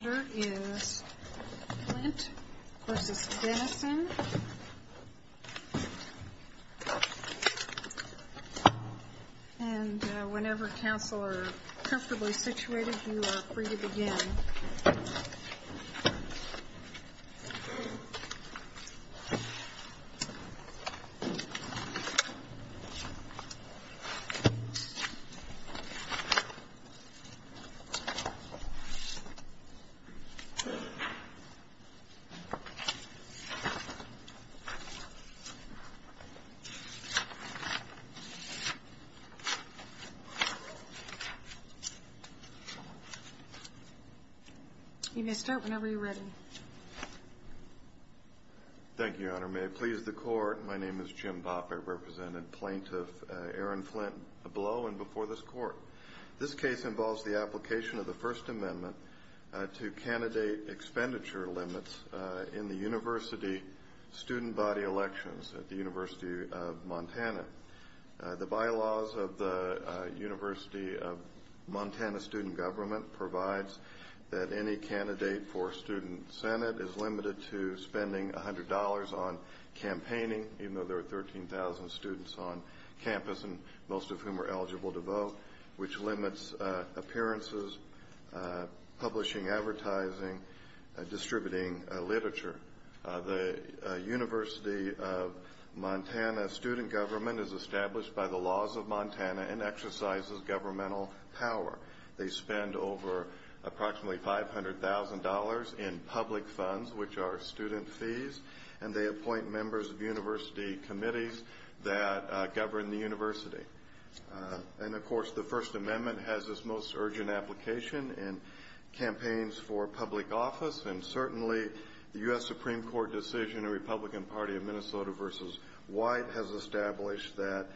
The order is Flint v. Dennison And whenever counsel are comfortably situated, you are free to begin. You may start whenever you're ready. Thank you, Your Honor. May it please the Court, my name is Jim Bopp. I represent Plaintiff Aaron Flint, below and before this Court. This case involves the application of the First Amendment to candidate expenditure limits in the university student body elections at the University of Montana. The bylaws of the University of Montana student government provides that any candidate for student senate is limited to three years on campus, most of whom are eligible to vote, which limits appearances, publishing, advertising, distributing literature. The University of Montana student government is established by the laws of Montana and exercises governmental power. They spend over approximately $500,000 in public funds, which are student fees, and they appoint members of university committees that govern the university. And, of course, the First Amendment has its most urgent application in campaigns for public office, and certainly the U.S. Supreme Court decision in the Republican Party of Minnesota v. White has established that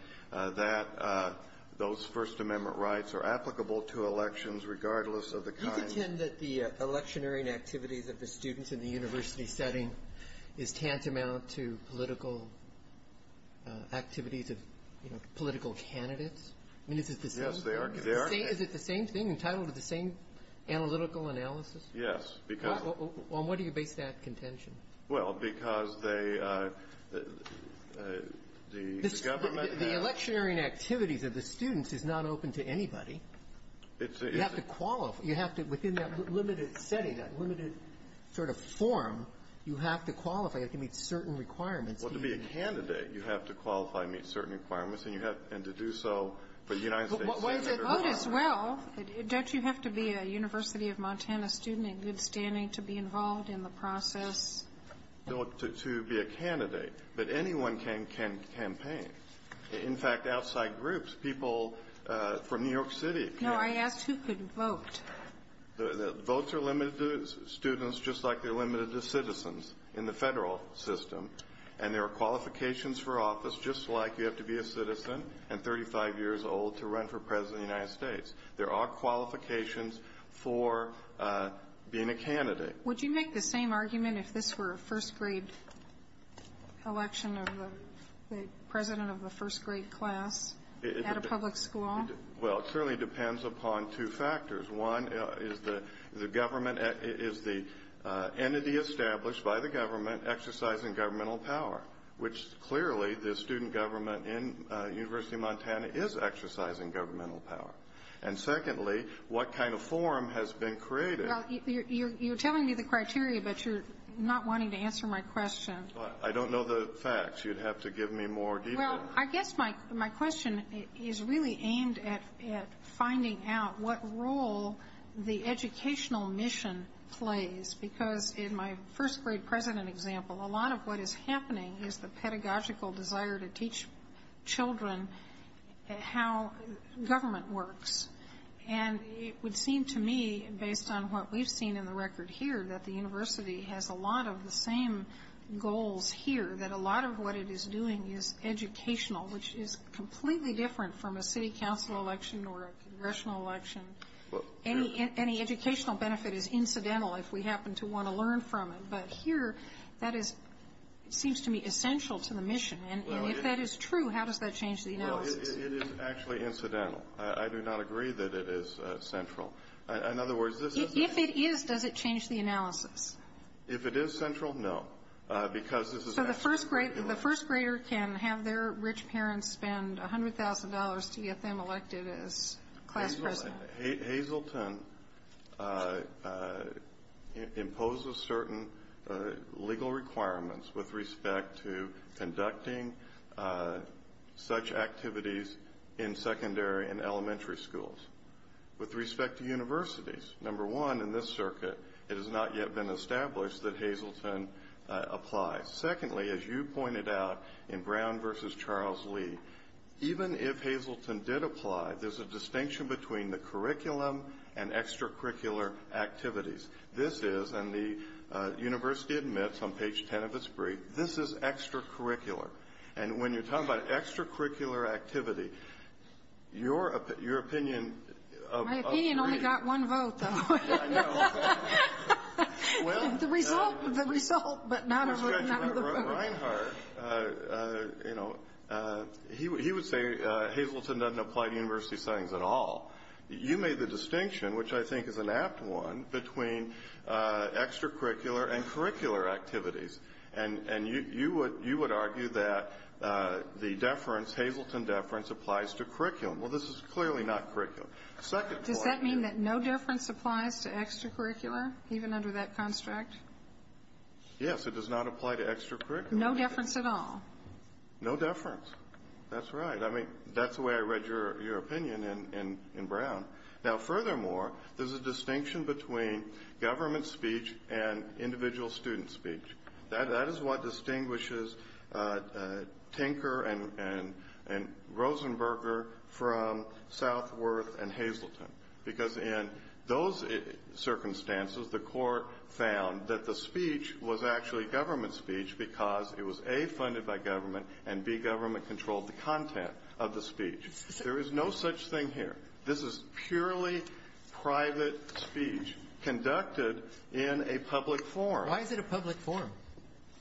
those First Amendment rights are applicable to candidates. And I think it's fair to say that in order to be a candidate, you have to qualify to meet certain requirements. Well, to be a candidate, you have to qualify to meet certain requirements, and you have to do so for the United States Senate or whatever. Well, to vote as well. Don't you have to be a University of Montana student in good standing to be involved in the process? To be a candidate. But anyone can campaign. In fact, outside groups, people from New York City can. No. I asked who could vote. Votes are limited to students just like they're limited to citizens in the Federal system. And there are qualifications for office, just like you have to be a citizen and 35 years old to run for President of the United States. There are qualifications for being a candidate. Would you make the same argument if this were a first-grade election of the president of a first-grade class at a public school? Well, it clearly depends upon two factors. One is the entity established by the government exercising governmental power, which clearly the student government in University of Montana is exercising governmental power. And secondly, what kind of forum has been created? Well, you're telling me the criteria, but you're not wanting to answer my question. I don't know the facts. You'd have to give me more detail. Well, I guess my question is really aimed at finding out what role the educational mission plays. Because in my first-grade president example, a lot of what is happening is the pedagogical desire to teach children how government works. And it would seem to me, based on what we've seen in the record here, that the goals here, that a lot of what it is doing is educational, which is completely different from a city council election or a congressional election. Any educational benefit is incidental if we happen to want to learn from it. But here, that is, it seems to me, essential to the mission. And if that is true, how does that change the analysis? Well, it is actually incidental. I do not agree that it is central. In other words, this is not If it is, does it change the analysis? If it is central, no. Because this is So the first grader can have their rich parents spend $100,000 to get them elected as class president. Hazleton imposes certain legal requirements with respect to conducting such activities in secondary and elementary schools. With respect to universities, number one, in this circuit, it has not yet been established that Hazleton applies. Secondly, as you pointed out in Brown v. Charles Lee, even if Hazleton did apply, there's a distinction between the curriculum and extracurricular activities. This is, and the university admits on page 10 of its brief, this is extracurricular. And when you're talking about extracurricular activity, your opinion of My opinion only got one vote, though. I know. The result, but not a vote. With respect to Reinhart, he would say Hazleton does not apply to university settings at all. You made the distinction, which I think is an apt one, between extracurricular and curricular activities. And you would argue that the deference, Hazleton deference, applies to curriculum. Well, this is clearly not curriculum. Does that mean that no deference applies to extracurricular, even under that construct? Yes, it does not apply to extracurricular. No deference at all? No deference. That's right. I mean, that's the way I read your opinion in Brown. Now, furthermore, there's a distinction between government speech and Rosenberger from Southworth and Hazleton, because in those circumstances, the Court found that the speech was actually government speech because it was, A, funded by government, and, B, government controlled the content of the speech. There is no such thing here. This is purely private speech conducted in a public forum. Why is it a public forum?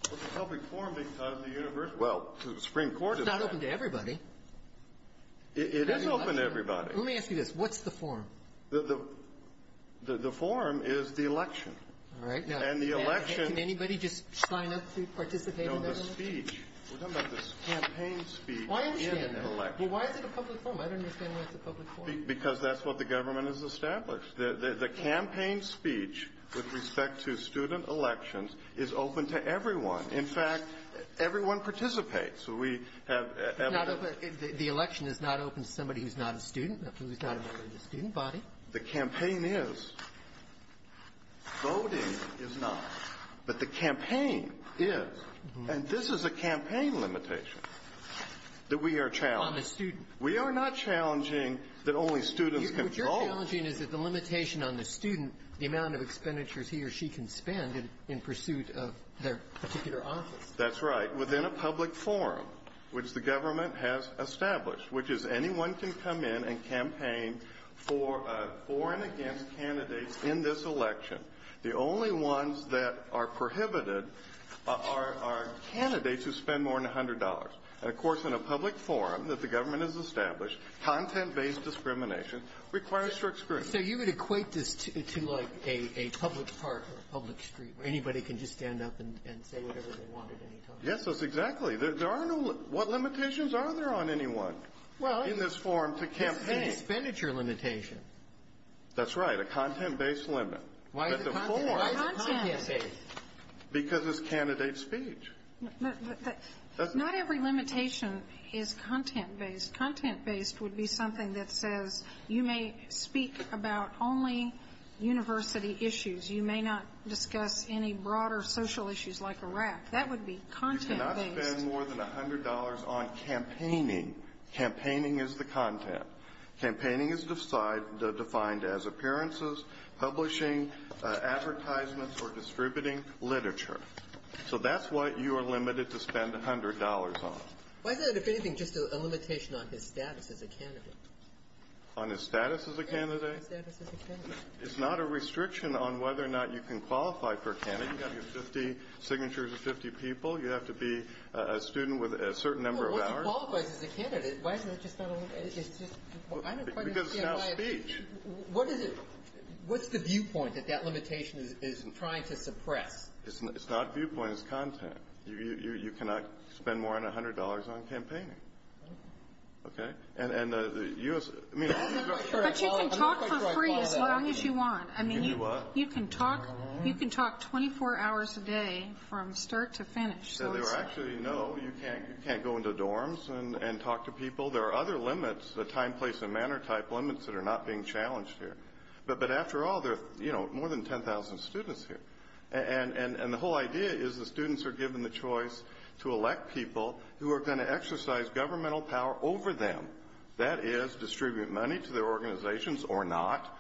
It's a public forum because of the university. Well, the Supreme Court did that. Well, it's not open to everybody. It is open to everybody. Let me ask you this. What's the forum? The forum is the election. All right. Now, can anybody just sign up to participate in that? No, the speech. We're talking about the campaign speech in an election. Well, why is it a public forum? I don't understand why it's a public forum. Because that's what the government has established. The campaign speech with respect to student elections is open to everyone. In fact, everyone participates. So we have evidence. It's not open. The election is not open to somebody who's not a student, who is not a member of the student body. The campaign is. Voting is not. But the campaign is. And this is a campaign limitation that we are challenging. On the student. We are not challenging that only students can vote. What you're challenging is that the limitation on the student, the amount of expenditures he or she can spend in pursuit of their particular office. That's right. Within a public forum, which the government has established, which is anyone can come in and campaign for and against candidates in this election. The only ones that are prohibited are candidates who spend more than $100. Of course, in a public forum that the government has established, content-based discrimination requires strict scrutiny. So you would equate this to, like, a public park or a public street where anybody can just stand up and say whatever they want at any time. Yes, exactly. What limitations are there on anyone in this form to campaign? It's a expenditure limitation. That's right. A content-based limit. Why is it content-based? Because it's candidate speech. Not every limitation is content-based. Content-based would be something that says you may speak about only university issues. You may not discuss any broader social issues like Iraq. That would be content-based. You cannot spend more than $100 on campaigning. Campaigning is the content. Campaigning is defined as appearances, publishing, advertisements, or distributing literature. So that's what you are limited to spend $100 on. Why is that, if anything, just a limitation on his status as a candidate? On his status as a candidate? Yes, on his status as a candidate. It's not a restriction on whether or not you can qualify for a candidate. You have to have signatures of 50 people. You have to be a student with a certain number of hours. Well, once you qualify as a candidate, why is it just not a limitation? Because it's not speech. What's the viewpoint that that limitation is trying to suppress? It's not viewpoint. It's content. You cannot spend more than $100 on campaigning. Okay? But you can talk for free as long as you want. You can do what? You can talk 24 hours a day from start to finish. Actually, no, you can't go into dorms and talk to people. There are other limits, the time, place, and manner type limits that are not being challenged here. But after all, there are more than 10,000 students here. And the whole idea is the students are given the choice to elect people who are going to exercise governmental power over them. That is, distribute money to their organizations or not,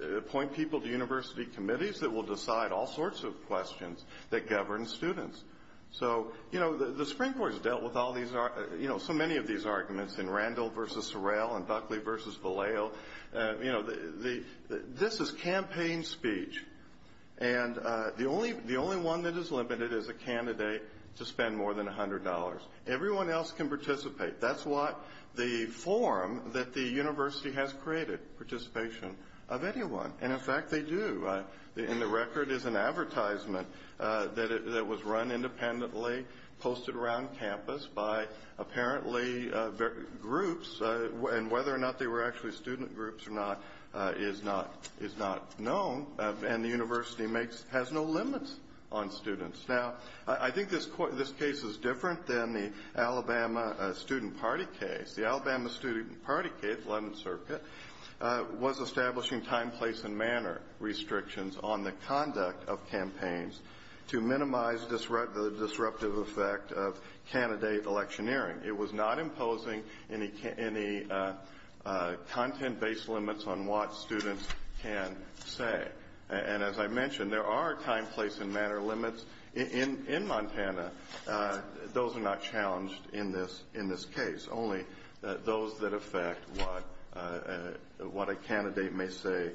appoint people to university committees that will decide all sorts of questions that govern students. So, you know, the Supreme Court has dealt with so many of these arguments in Randall versus Sorrell and Buckley versus Vallejo. You know, this is campaign speech. And the only one that is limited is a candidate to spend more than $100. Everyone else can participate. That's what the form that the university has created, participation of anyone. And, in fact, they do. And the record is an advertisement that was run independently, posted around campus by apparently groups. And whether or not they were actually student groups or not is not known. And the university has no limits on students. Now, I think this case is different than the Alabama Student Party case. The Alabama Student Party case, 11th Circuit, was establishing time, place, and manner restrictions on the conduct of campaigns to minimize the disruptive effect of candidate electioneering. It was not imposing any content-based limits on what students can say. And as I mentioned, there are time, place, and manner limits in Montana. Those are not challenged in this case. Only those that affect what a candidate may say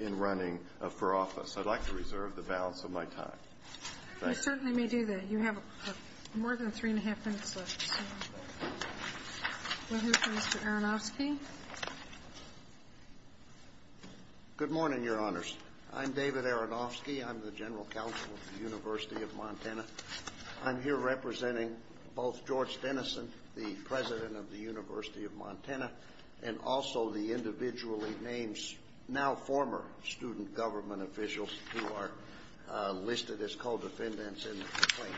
in running for office. I'd like to reserve the balance of my time. Thank you. We certainly may do that. You have more than three and a half minutes left. We'll hear from Mr. Aronofsky. Good morning, Your Honors. I'm David Aronofsky. I'm the General Counsel of the University of Montana. I'm here representing both George Dennison, the President of the University of Montana, and also the individually named, now former, student government officials who are listed as co-defendants in the complaint.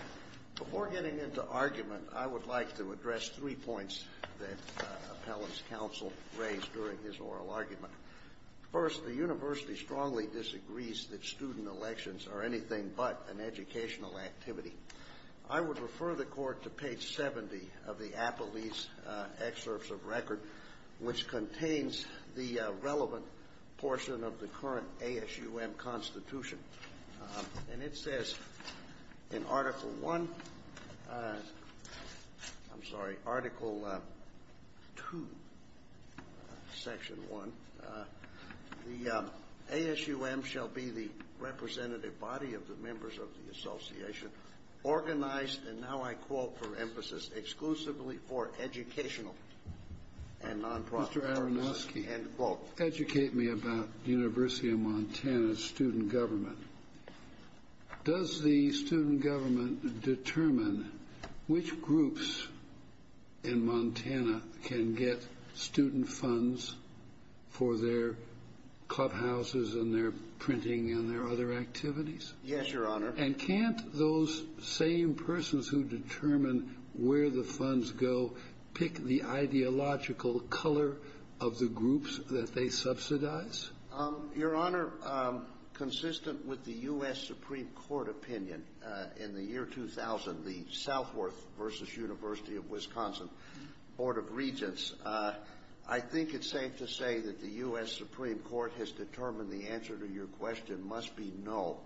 Before getting into argument, I would like to address three points that Appellant's counsel raised during his oral argument. First, the university strongly disagrees that student elections are anything but an educational activity. I would refer the Court to page 70 of the Appellee's Excerpts of Record, which contains the relevant portion of the current ASUM Constitution. And it says in Article I, I'm sorry, Article II, Section 1, the ASUM shall be the representative body of the members of the association organized, and now I quote for emphasis, exclusively for educational and nonprofit purposes. Educate me about the University of Montana's student government. Does the student government determine which groups in Montana can get student funds for their clubhouses and their printing and their other activities? Yes, Your Honor. And can't those same persons who determine where the funds go pick the ideological color of the groups that they subsidize? Your Honor, consistent with the U.S. Supreme Court opinion in the year 2000, the Southworth v. University of Wisconsin Board of Regents, I think it's safe to say that the U.S. Supreme Court has determined the answer to your question must be no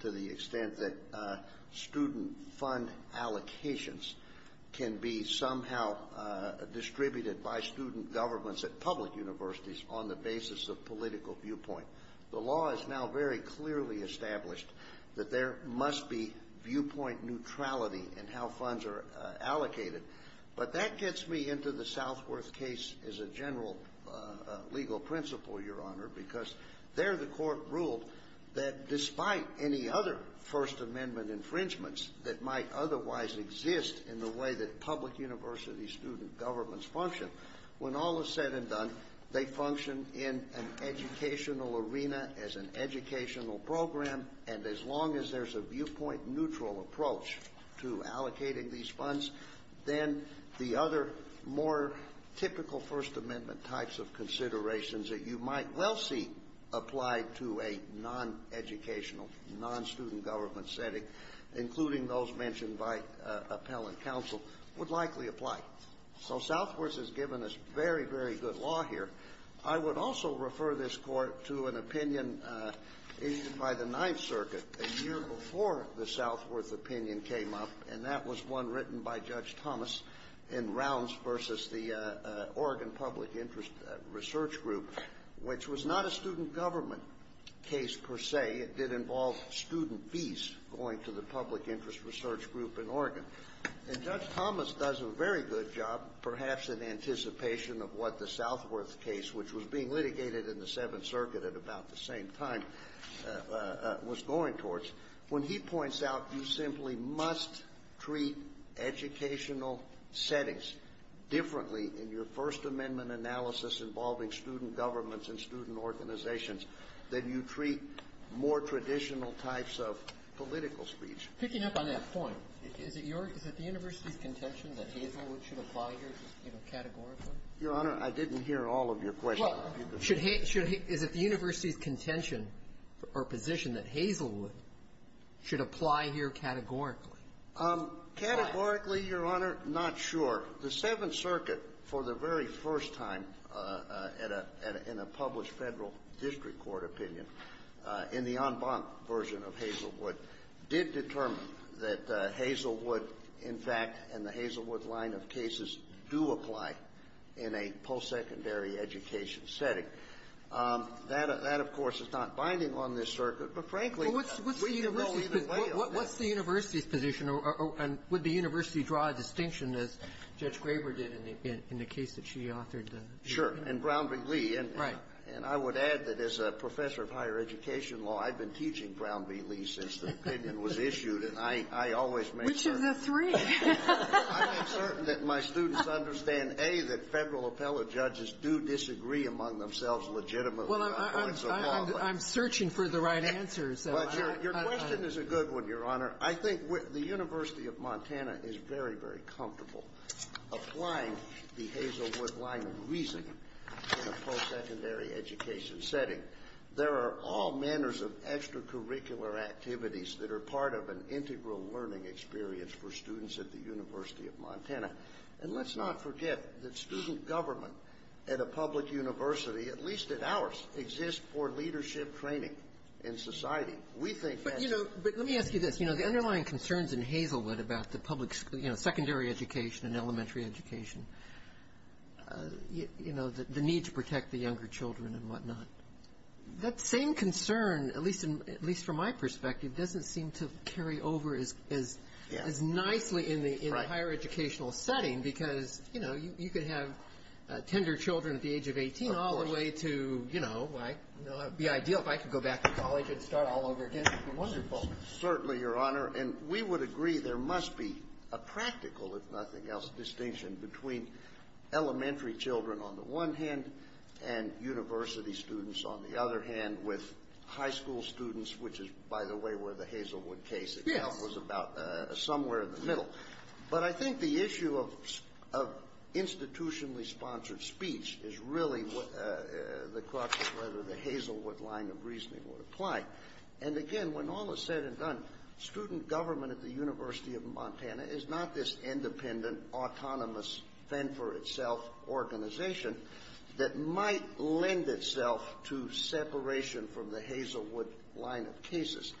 to the extent that student fund allocations can be somehow distributed by student governments at public universities on the basis of political viewpoint. The law is now very clearly established that there must be viewpoint neutrality in how funds are allocated. But that gets me into the Southworth case as a general legal principle, Your Honor, because there the court ruled that despite any other First Amendment infringements that might otherwise exist in the way that public university student governments function, when all is said and done, they function in an educational arena, as an educational program, and as long as there's a viewpoint neutral approach to allocating these funds, then the other more typical First Amendment types of considerations that you might well see applied to a non-educational, non-student government setting, including those mentioned by appellant counsel, would likely apply. So Southworth has given us very, very good law here. I would also refer this Court to an opinion issued by the Ninth Circuit a year before the Southworth opinion came up, and that was one written by Judge Thomas in Rounds v. the Oregon Public Interest Research Group, which was not a student government case per se. It did involve student fees going to the Public Interest Research Group in Oregon. And Judge Thomas does a very good job, perhaps in anticipation of what the Southworth case, which was being litigated in the Seventh Circuit at about the same time, was going towards. When he points out you simply must treat educational settings differently in your First Amendment analysis involving student governments and student organizations than you treat more traditional types of political speech. Picking up on that point, is it your – is it the university's contention that Hazelwood should apply here, you know, categorically? Your Honor, I didn't hear all of your questions. Well, is it the university's contention or position that Hazelwood should apply here categorically? Categorically, Your Honor, not sure. The Seventh Circuit, for the very first time in a published Federal district court opinion, in the en banc version of Hazelwood, did determine that Hazelwood, in fact, and the Hazelwood line of cases do apply in a post-secondary education setting. That, of course, is not binding on this circuit, but frankly, we can go either way on that. What's the university's position, or would the university draw a distinction as Judge Graber did in the case that she authored? Sure. And Brown v. Lee. Right. And I would add that as a professor of higher education law, I've been teaching Brown v. Lee since the opinion was issued. And I always make certain that my students understand, A, that Federal appellate judges do disagree among themselves legitimately. Well, I'm searching for the right answers. But your question is a good one, Your Honor. I think the University of Montana is very, very comfortable applying the Hazelwood line of reasoning in a post-secondary education setting. There are all manners of extracurricular activities that are part of an integral learning experience for students at the University of Montana. And let's not forget that student government at a public university, at least at ours, exists for leadership training in society. We think that's the case. But, you know, let me ask you this. You know, the underlying concerns in Hazelwood about the public, you know, secondary education and elementary education, you know, the need to protect the younger children and whatnot, that same concern, at least from my perspective, doesn't seem to carry over as nicely in the higher educational setting because, you know, you could have tender children at the age of 18 all the way to, you know, it would be ideal if I could go back to college and start all over again. It would be wonderful. Certainly, Your Honor. And we would agree there must be a practical, if nothing else, distinction between elementary children on the one hand and university students on the other hand with high school students, which is, by the way, where the Hazelwood case itself was about somewhere in the middle. But I think the issue of institutionally sponsored speech is really the question of whether the Hazelwood line of reasoning would apply. And, again, when all is said and done, student government at the University of Montana is not this independent, autonomous, then-for-itself organization that might lend itself to separation from the Hazelwood line of cases.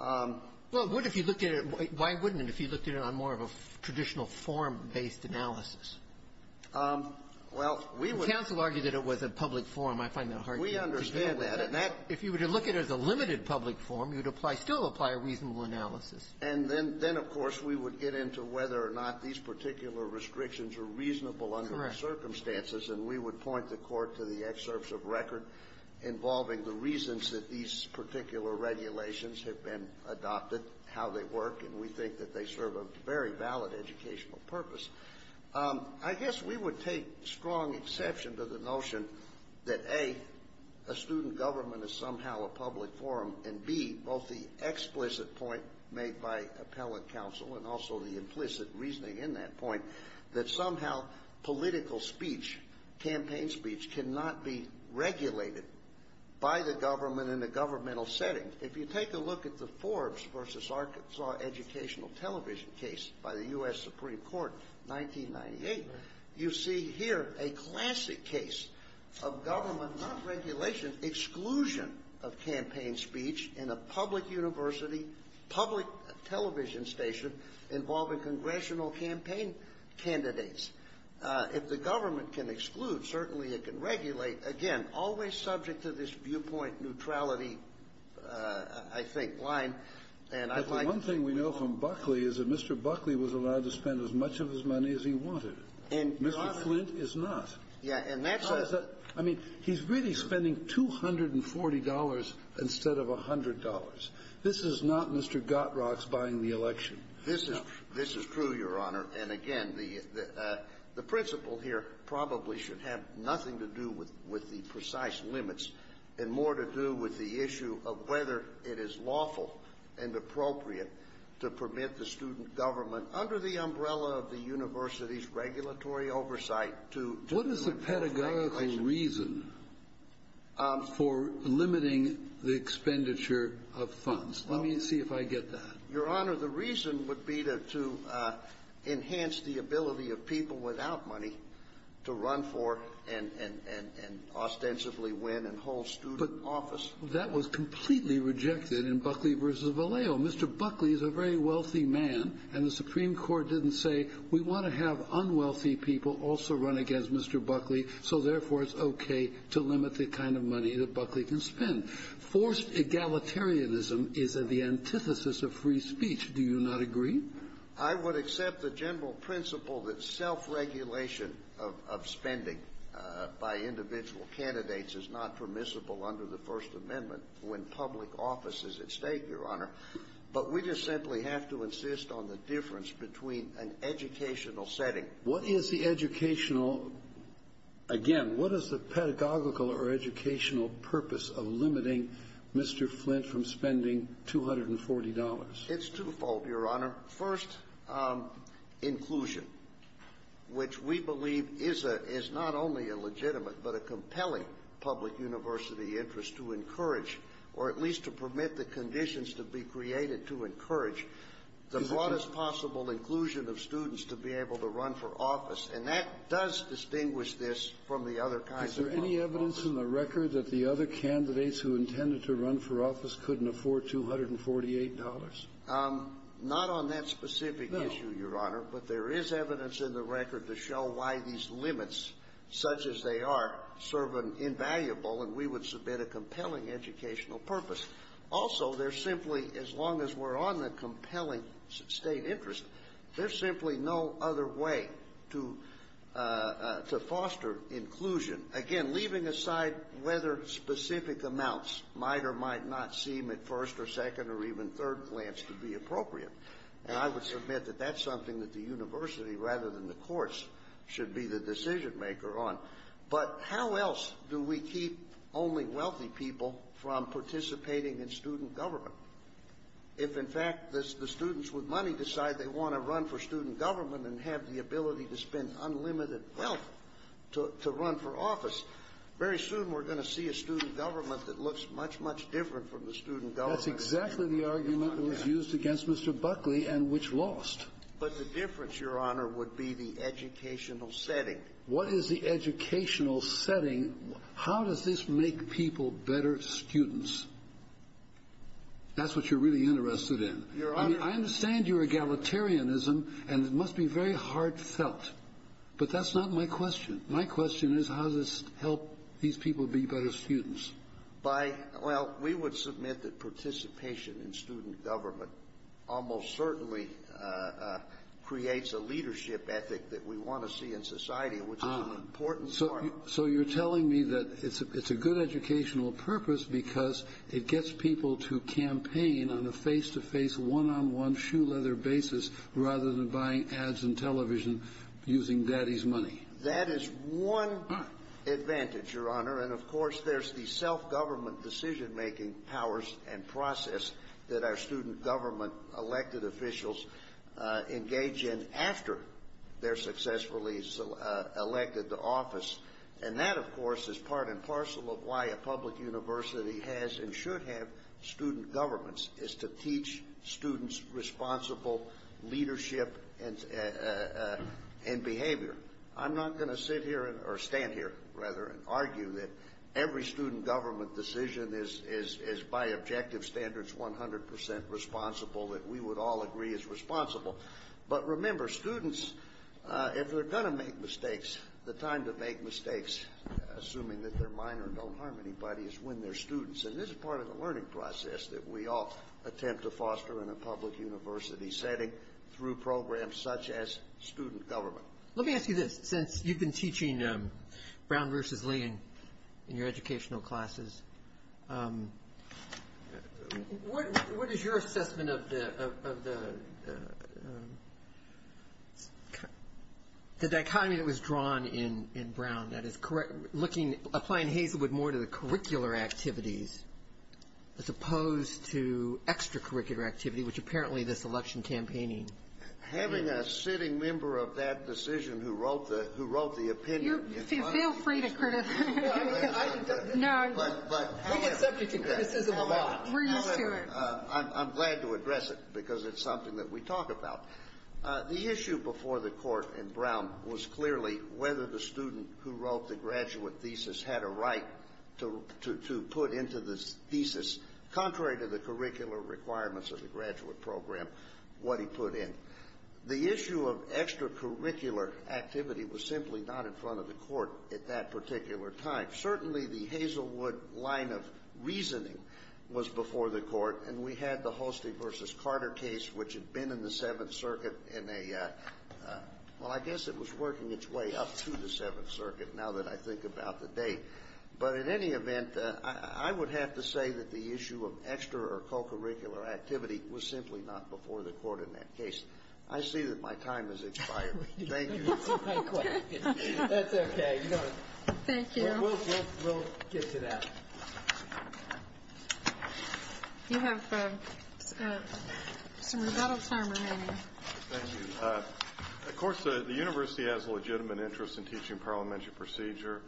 Well, it would if you looked at it. Why wouldn't it if you looked at it on more of a traditional form-based analysis? Well, we would. The counsel argued that it was a public forum. I find that hard to agree with. We understand that. If you were to look at it as a limited public forum, you would apply, still apply a reasonable analysis. And then, of course, we would get into whether or not these particular restrictions are reasonable under the circumstances. Correct. And we would point the Court to the excerpts of record involving the reasons that these particular regulations have been adopted, how they work. And we think that they serve a very valid educational purpose. I guess we would take strong exception to the notion that, A, a student government is somehow a public forum, and, B, both the explicit point made by appellate counsel and also the implicit reasoning in that point, that somehow political speech, campaign speech, cannot be regulated by the government in a governmental setting. If you take a look at the Forbes versus Arkansas educational television case by the U.S. Supreme Court, 1998, you see here a classic case of government, not regulation, exclusion of campaign speech in a public university, public television station involving congressional campaign candidates. If the government can exclude, certainly it can regulate. Again, always subject to this viewpoint neutrality, I think, line. The one thing we know from Buckley is that Mr. Buckley was allowed to spend as much of his money as he wanted. Mr. Flint is not. I mean, he's really spending $240 instead of $100. This is not Mr. Gottrock's buying the election. This is true, Your Honor. And, again, the principle here probably should have nothing to do with the precise limits and more to do with the issue of whether it is lawful and appropriate to permit the student government, under the umbrella of the university's regulatory oversight, to do it. What is the pedagogical reason for limiting the expenditure of funds? Let me see if I get that. Your Honor, the reason would be to enhance the ability of people without money to run for and ostensibly win and hold student office. But that was completely rejected in Buckley v. Vallejo. Mr. Buckley is a very wealthy man, and the Supreme Court didn't say, we want to have unwealthy people also run against Mr. Buckley, so, therefore, it's okay to limit the kind of money that Buckley can spend. Forced egalitarianism is the antithesis of free speech. Do you not agree? I would accept the general principle that self-regulation of spending by individual candidates is not permissible under the First Amendment when public office is at stake, Your Honor. But we just simply have to insist on the difference between an educational setting. What is the educational, again, what is the pedagogical or educational purpose of limiting Mr. Flint from spending $240? It's twofold, Your Honor. First, inclusion, which we believe is a — is not only a legitimate, but a compelling public university interest to encourage, or at least to permit the conditions to be created to encourage the broadest possible inclusion of students to be able to run for office. And that does distinguish this from the other kinds of public offices. Is there any evidence in the record that the other candidates who intended to run for office couldn't afford $248? Not on that specific issue, Your Honor. No. But there is evidence in the record to show why these limits, such as they are, serve an invaluable and, we would submit, a compelling educational purpose. Also, there's simply, as long as we're on the compelling State interest, there's Again, leaving aside whether specific amounts might or might not seem at first or second or even third glance to be appropriate. And I would submit that that's something that the university, rather than the courts, should be the decision-maker on. But how else do we keep only wealthy people from participating in student government? If, in fact, the students with money decide they want to run for student office, very soon we're going to see a student government that looks much, much different from the student government. That's exactly the argument that was used against Mr. Buckley and which lost. But the difference, Your Honor, would be the educational setting. What is the educational setting? How does this make people better students? That's what you're really interested in. Your Honor. I understand your egalitarianism, and it must be very heartfelt. But that's not my question. My question is, how does this help these people be better students? By, well, we would submit that participation in student government almost certainly creates a leadership ethic that we want to see in society, which is an important part of it. So you're telling me that it's a good educational purpose because it gets people to campaign on a face-to-face, one-on-one, shoe-leather basis rather than buying ads and television using daddy's money? That is one advantage, Your Honor. And, of course, there's the self-government decision-making powers and process that our student government elected officials engage in after they're successfully elected to office. And that, of course, is part and parcel of why a public university has and should have student governments, is to teach students responsible leadership and behavior. I'm not going to sit here or stand here, rather, and argue that every student government decision is, by objective standards, 100 percent responsible, that we would all agree is responsible. But remember, students, if they're going to make mistakes, the time to make mistakes, assuming that they're minor and don't harm anybody, is when they're students. And this is part of the learning process that we all attempt to foster in a public university setting through programs such as student government. Let me ask you this. Since you've been teaching Brown versus Lee in your educational classes, what is your assessment of the dichotomy that was drawn in Brown? That is, applying Hazelwood more to the curricular activities as opposed to extracurricular activity, which apparently this election campaigning is. I'm a sitting member of that decision who wrote the opinion. Feel free to criticize. We get subject to criticism a lot. We're used to it. I'm glad to address it because it's something that we talk about. The issue before the court in Brown was clearly whether the student who wrote the graduate thesis had a right to put into the thesis, contrary to the issue of extracurricular activity was simply not in front of the court at that particular time. Certainly the Hazelwood line of reasoning was before the court, and we had the Holstein versus Carter case, which had been in the Seventh Circuit in a — well, I guess it was working its way up to the Seventh Circuit, now that I think about the date. But in any event, I would have to say that the issue of extracurricular activity was simply not before the court in that case. I see that my time has expired. Thank you. Thank you. That's okay. Thank you. We'll get to that. You have some rebuttal time remaining. Thank you. Of course, the university has a legitimate interest in teaching parliamentary procedure.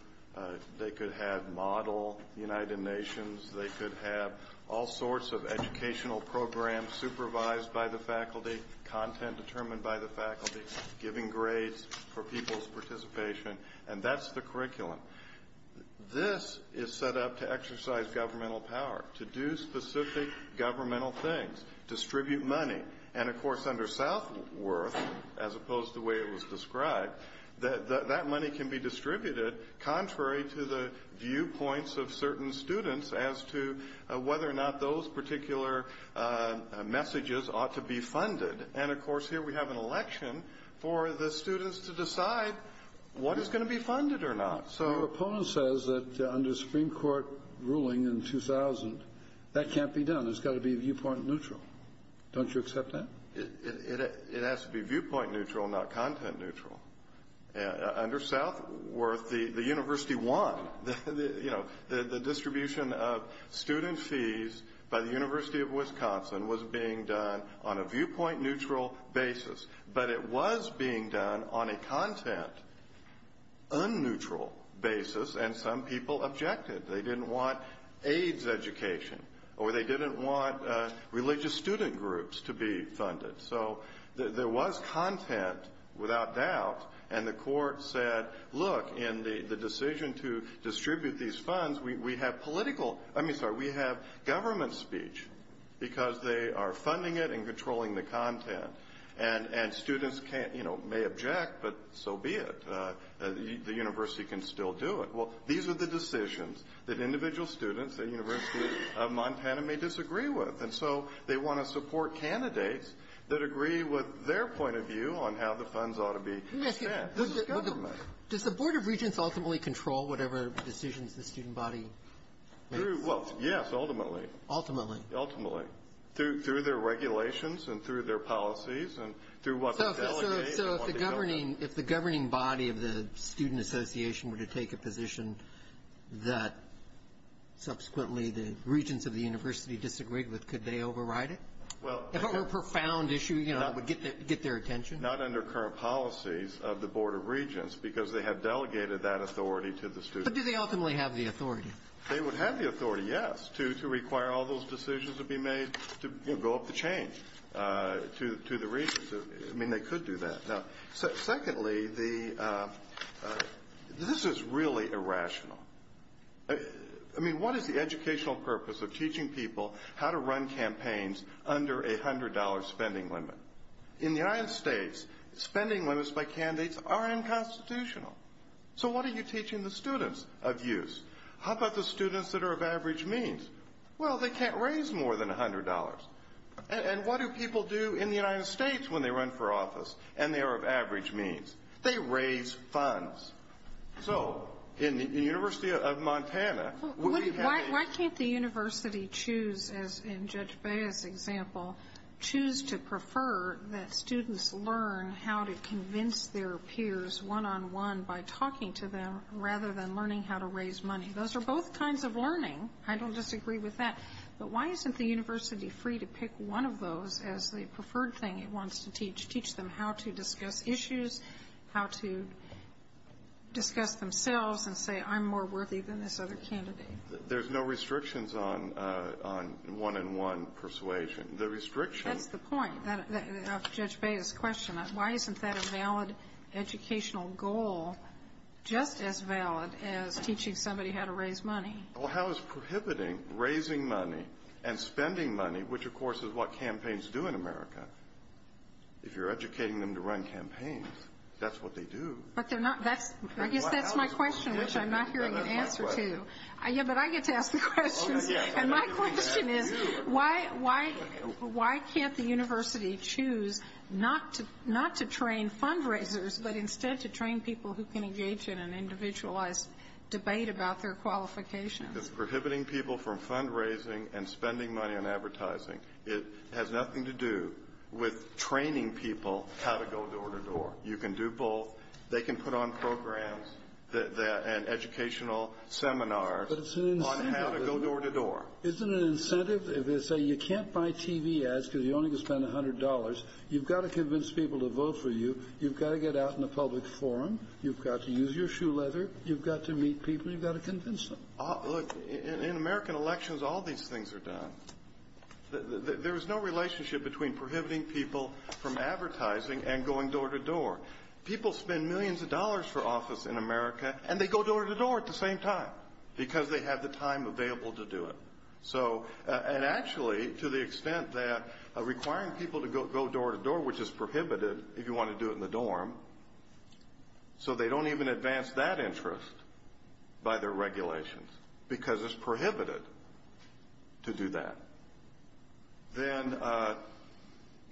They could have model United Nations. They could have all sorts of educational programs supervised by the faculty, content determined by the faculty, giving grades for people's participation. And that's the curriculum. This is set up to exercise governmental power, to do specific governmental things, distribute money. And, of course, under Southworth, as opposed to the way it was described, that money can be distributed contrary to the viewpoints of certain students as to whether or not those particular messages ought to be funded. And, of course, here we have an election for the students to decide what is going to be funded or not. So the proponent says that under Supreme Court ruling in 2000, that can't be done. It's got to be viewpoint neutral. Don't you accept that? It has to be viewpoint neutral, not content neutral. Under Southworth, the university won. The distribution of student fees by the University of Wisconsin was being done on a viewpoint neutral basis. But it was being done on a content un-neutral basis, and some people objected. They didn't want AIDS education or they didn't want religious student groups to be funded. So there was content, without doubt, and the court said, look, in the decision to distribute these funds, we have government speech because they are funding it and controlling the content. And students may object, but so be it. The university can still do it. Well, these are the decisions that individual students at University of Montana may disagree with. And so they want to support candidates that agree with their point of view on how the funds ought to be spent. Does the Board of Regents ultimately control whatever decisions the student body makes? Well, yes, ultimately. Ultimately? Ultimately. Through their regulations and through their policies and through what they delegate. So if the governing body of the student association were to take a position that subsequently the regents of the university disagreed with, could they override it? If it were a profound issue, you know, it would get their attention. Not under current policies of the Board of Regents because they have delegated that authority to the students. But do they ultimately have the authority? They would have the authority, yes, to require all those decisions to be made to go up the chain to the regents. I mean, they could do that. Now, secondly, this is really irrational. I mean, what is the educational purpose of teaching people how to run campaigns under a $100 spending limit? In the United States, spending limits by candidates are unconstitutional. So what are you teaching the students of use? How about the students that are of average means? Well, they can't raise more than $100. And what do people do in the United States when they run for office and they are of average means? They raise funds. So in the University of Montana, we have these. Why can't the university choose, as in Judge Baez's example, choose to prefer that students learn how to convince their peers one-on-one by talking to them rather than learning how to raise money? Those are both kinds of learning. I don't disagree with that. But why isn't the university free to pick one of those as the preferred thing it wants to teach, teach them how to discuss issues, how to discuss themselves and say I'm more worthy than this other candidate? There's no restrictions on one-on-one persuasion. The restriction — That's the point of Judge Baez's question. Why isn't that a valid educational goal, just as valid as teaching somebody how to raise money? Well, how is prohibiting raising money and spending money, which, of course, is what campaigns do in America, if you're educating them to run campaigns? That's what they do. I guess that's my question, which I'm not hearing an answer to. But I get to ask the questions. And my question is why can't the university choose not to train fundraisers but instead to train people who can engage in an individualized debate about their qualifications? Because prohibiting people from fundraising and spending money on advertising, it has nothing to do with training people how to go door-to-door. You can do both. They can put on programs and educational seminars on how to go door-to-door. But it's an incentive. Isn't it an incentive if they say you can't buy TV ads because you're only going to spend $100? You've got to convince people to vote for you. You've got to get out in the public forum. You've got to use your shoe leather. You've got to meet people. You've got to convince them. Look, in American elections, all these things are done. There is no relationship between prohibiting people from advertising and going door-to-door. People spend millions of dollars for office in America, and they go door-to-door at the same time because they have the time available to do it. And actually, to the extent that requiring people to go door-to-door, which is prohibited if you want to do it in the dorm, so they don't even advance that interest by their regulations because it's prohibited to do that, then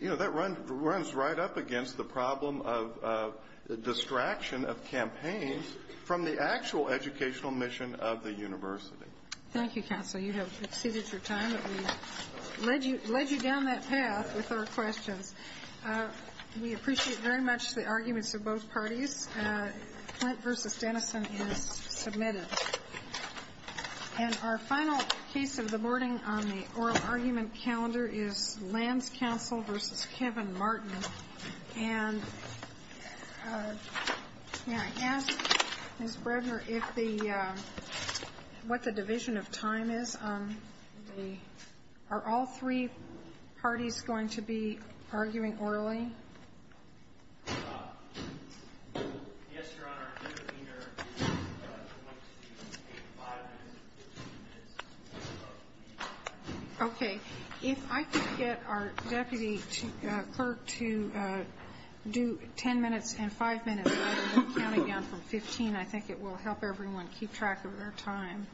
that runs right up against the problem of distraction of campaigns from the actual educational mission of the university. Thank you, Counsel. You have exceeded your time, but we've led you down that path with our questions. We appreciate very much the arguments of both parties. Clint v. Denison is submitted. And our final case of the morning on the oral argument calendar is Lands Council v. Kevin Martin. And may I ask, Ms. Bredner, what the division of time is? Are all three parties going to be arguing orally? Yes, Your Honor. Okay. If I could get our deputy clerk to do ten minutes and five minutes, and then we'll count it down from 15, I think it will help everyone keep track of their time.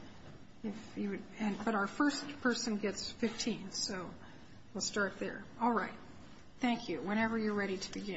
But our first person gets 15, so we'll start there. All right. Thank you. Whenever you're ready to begin.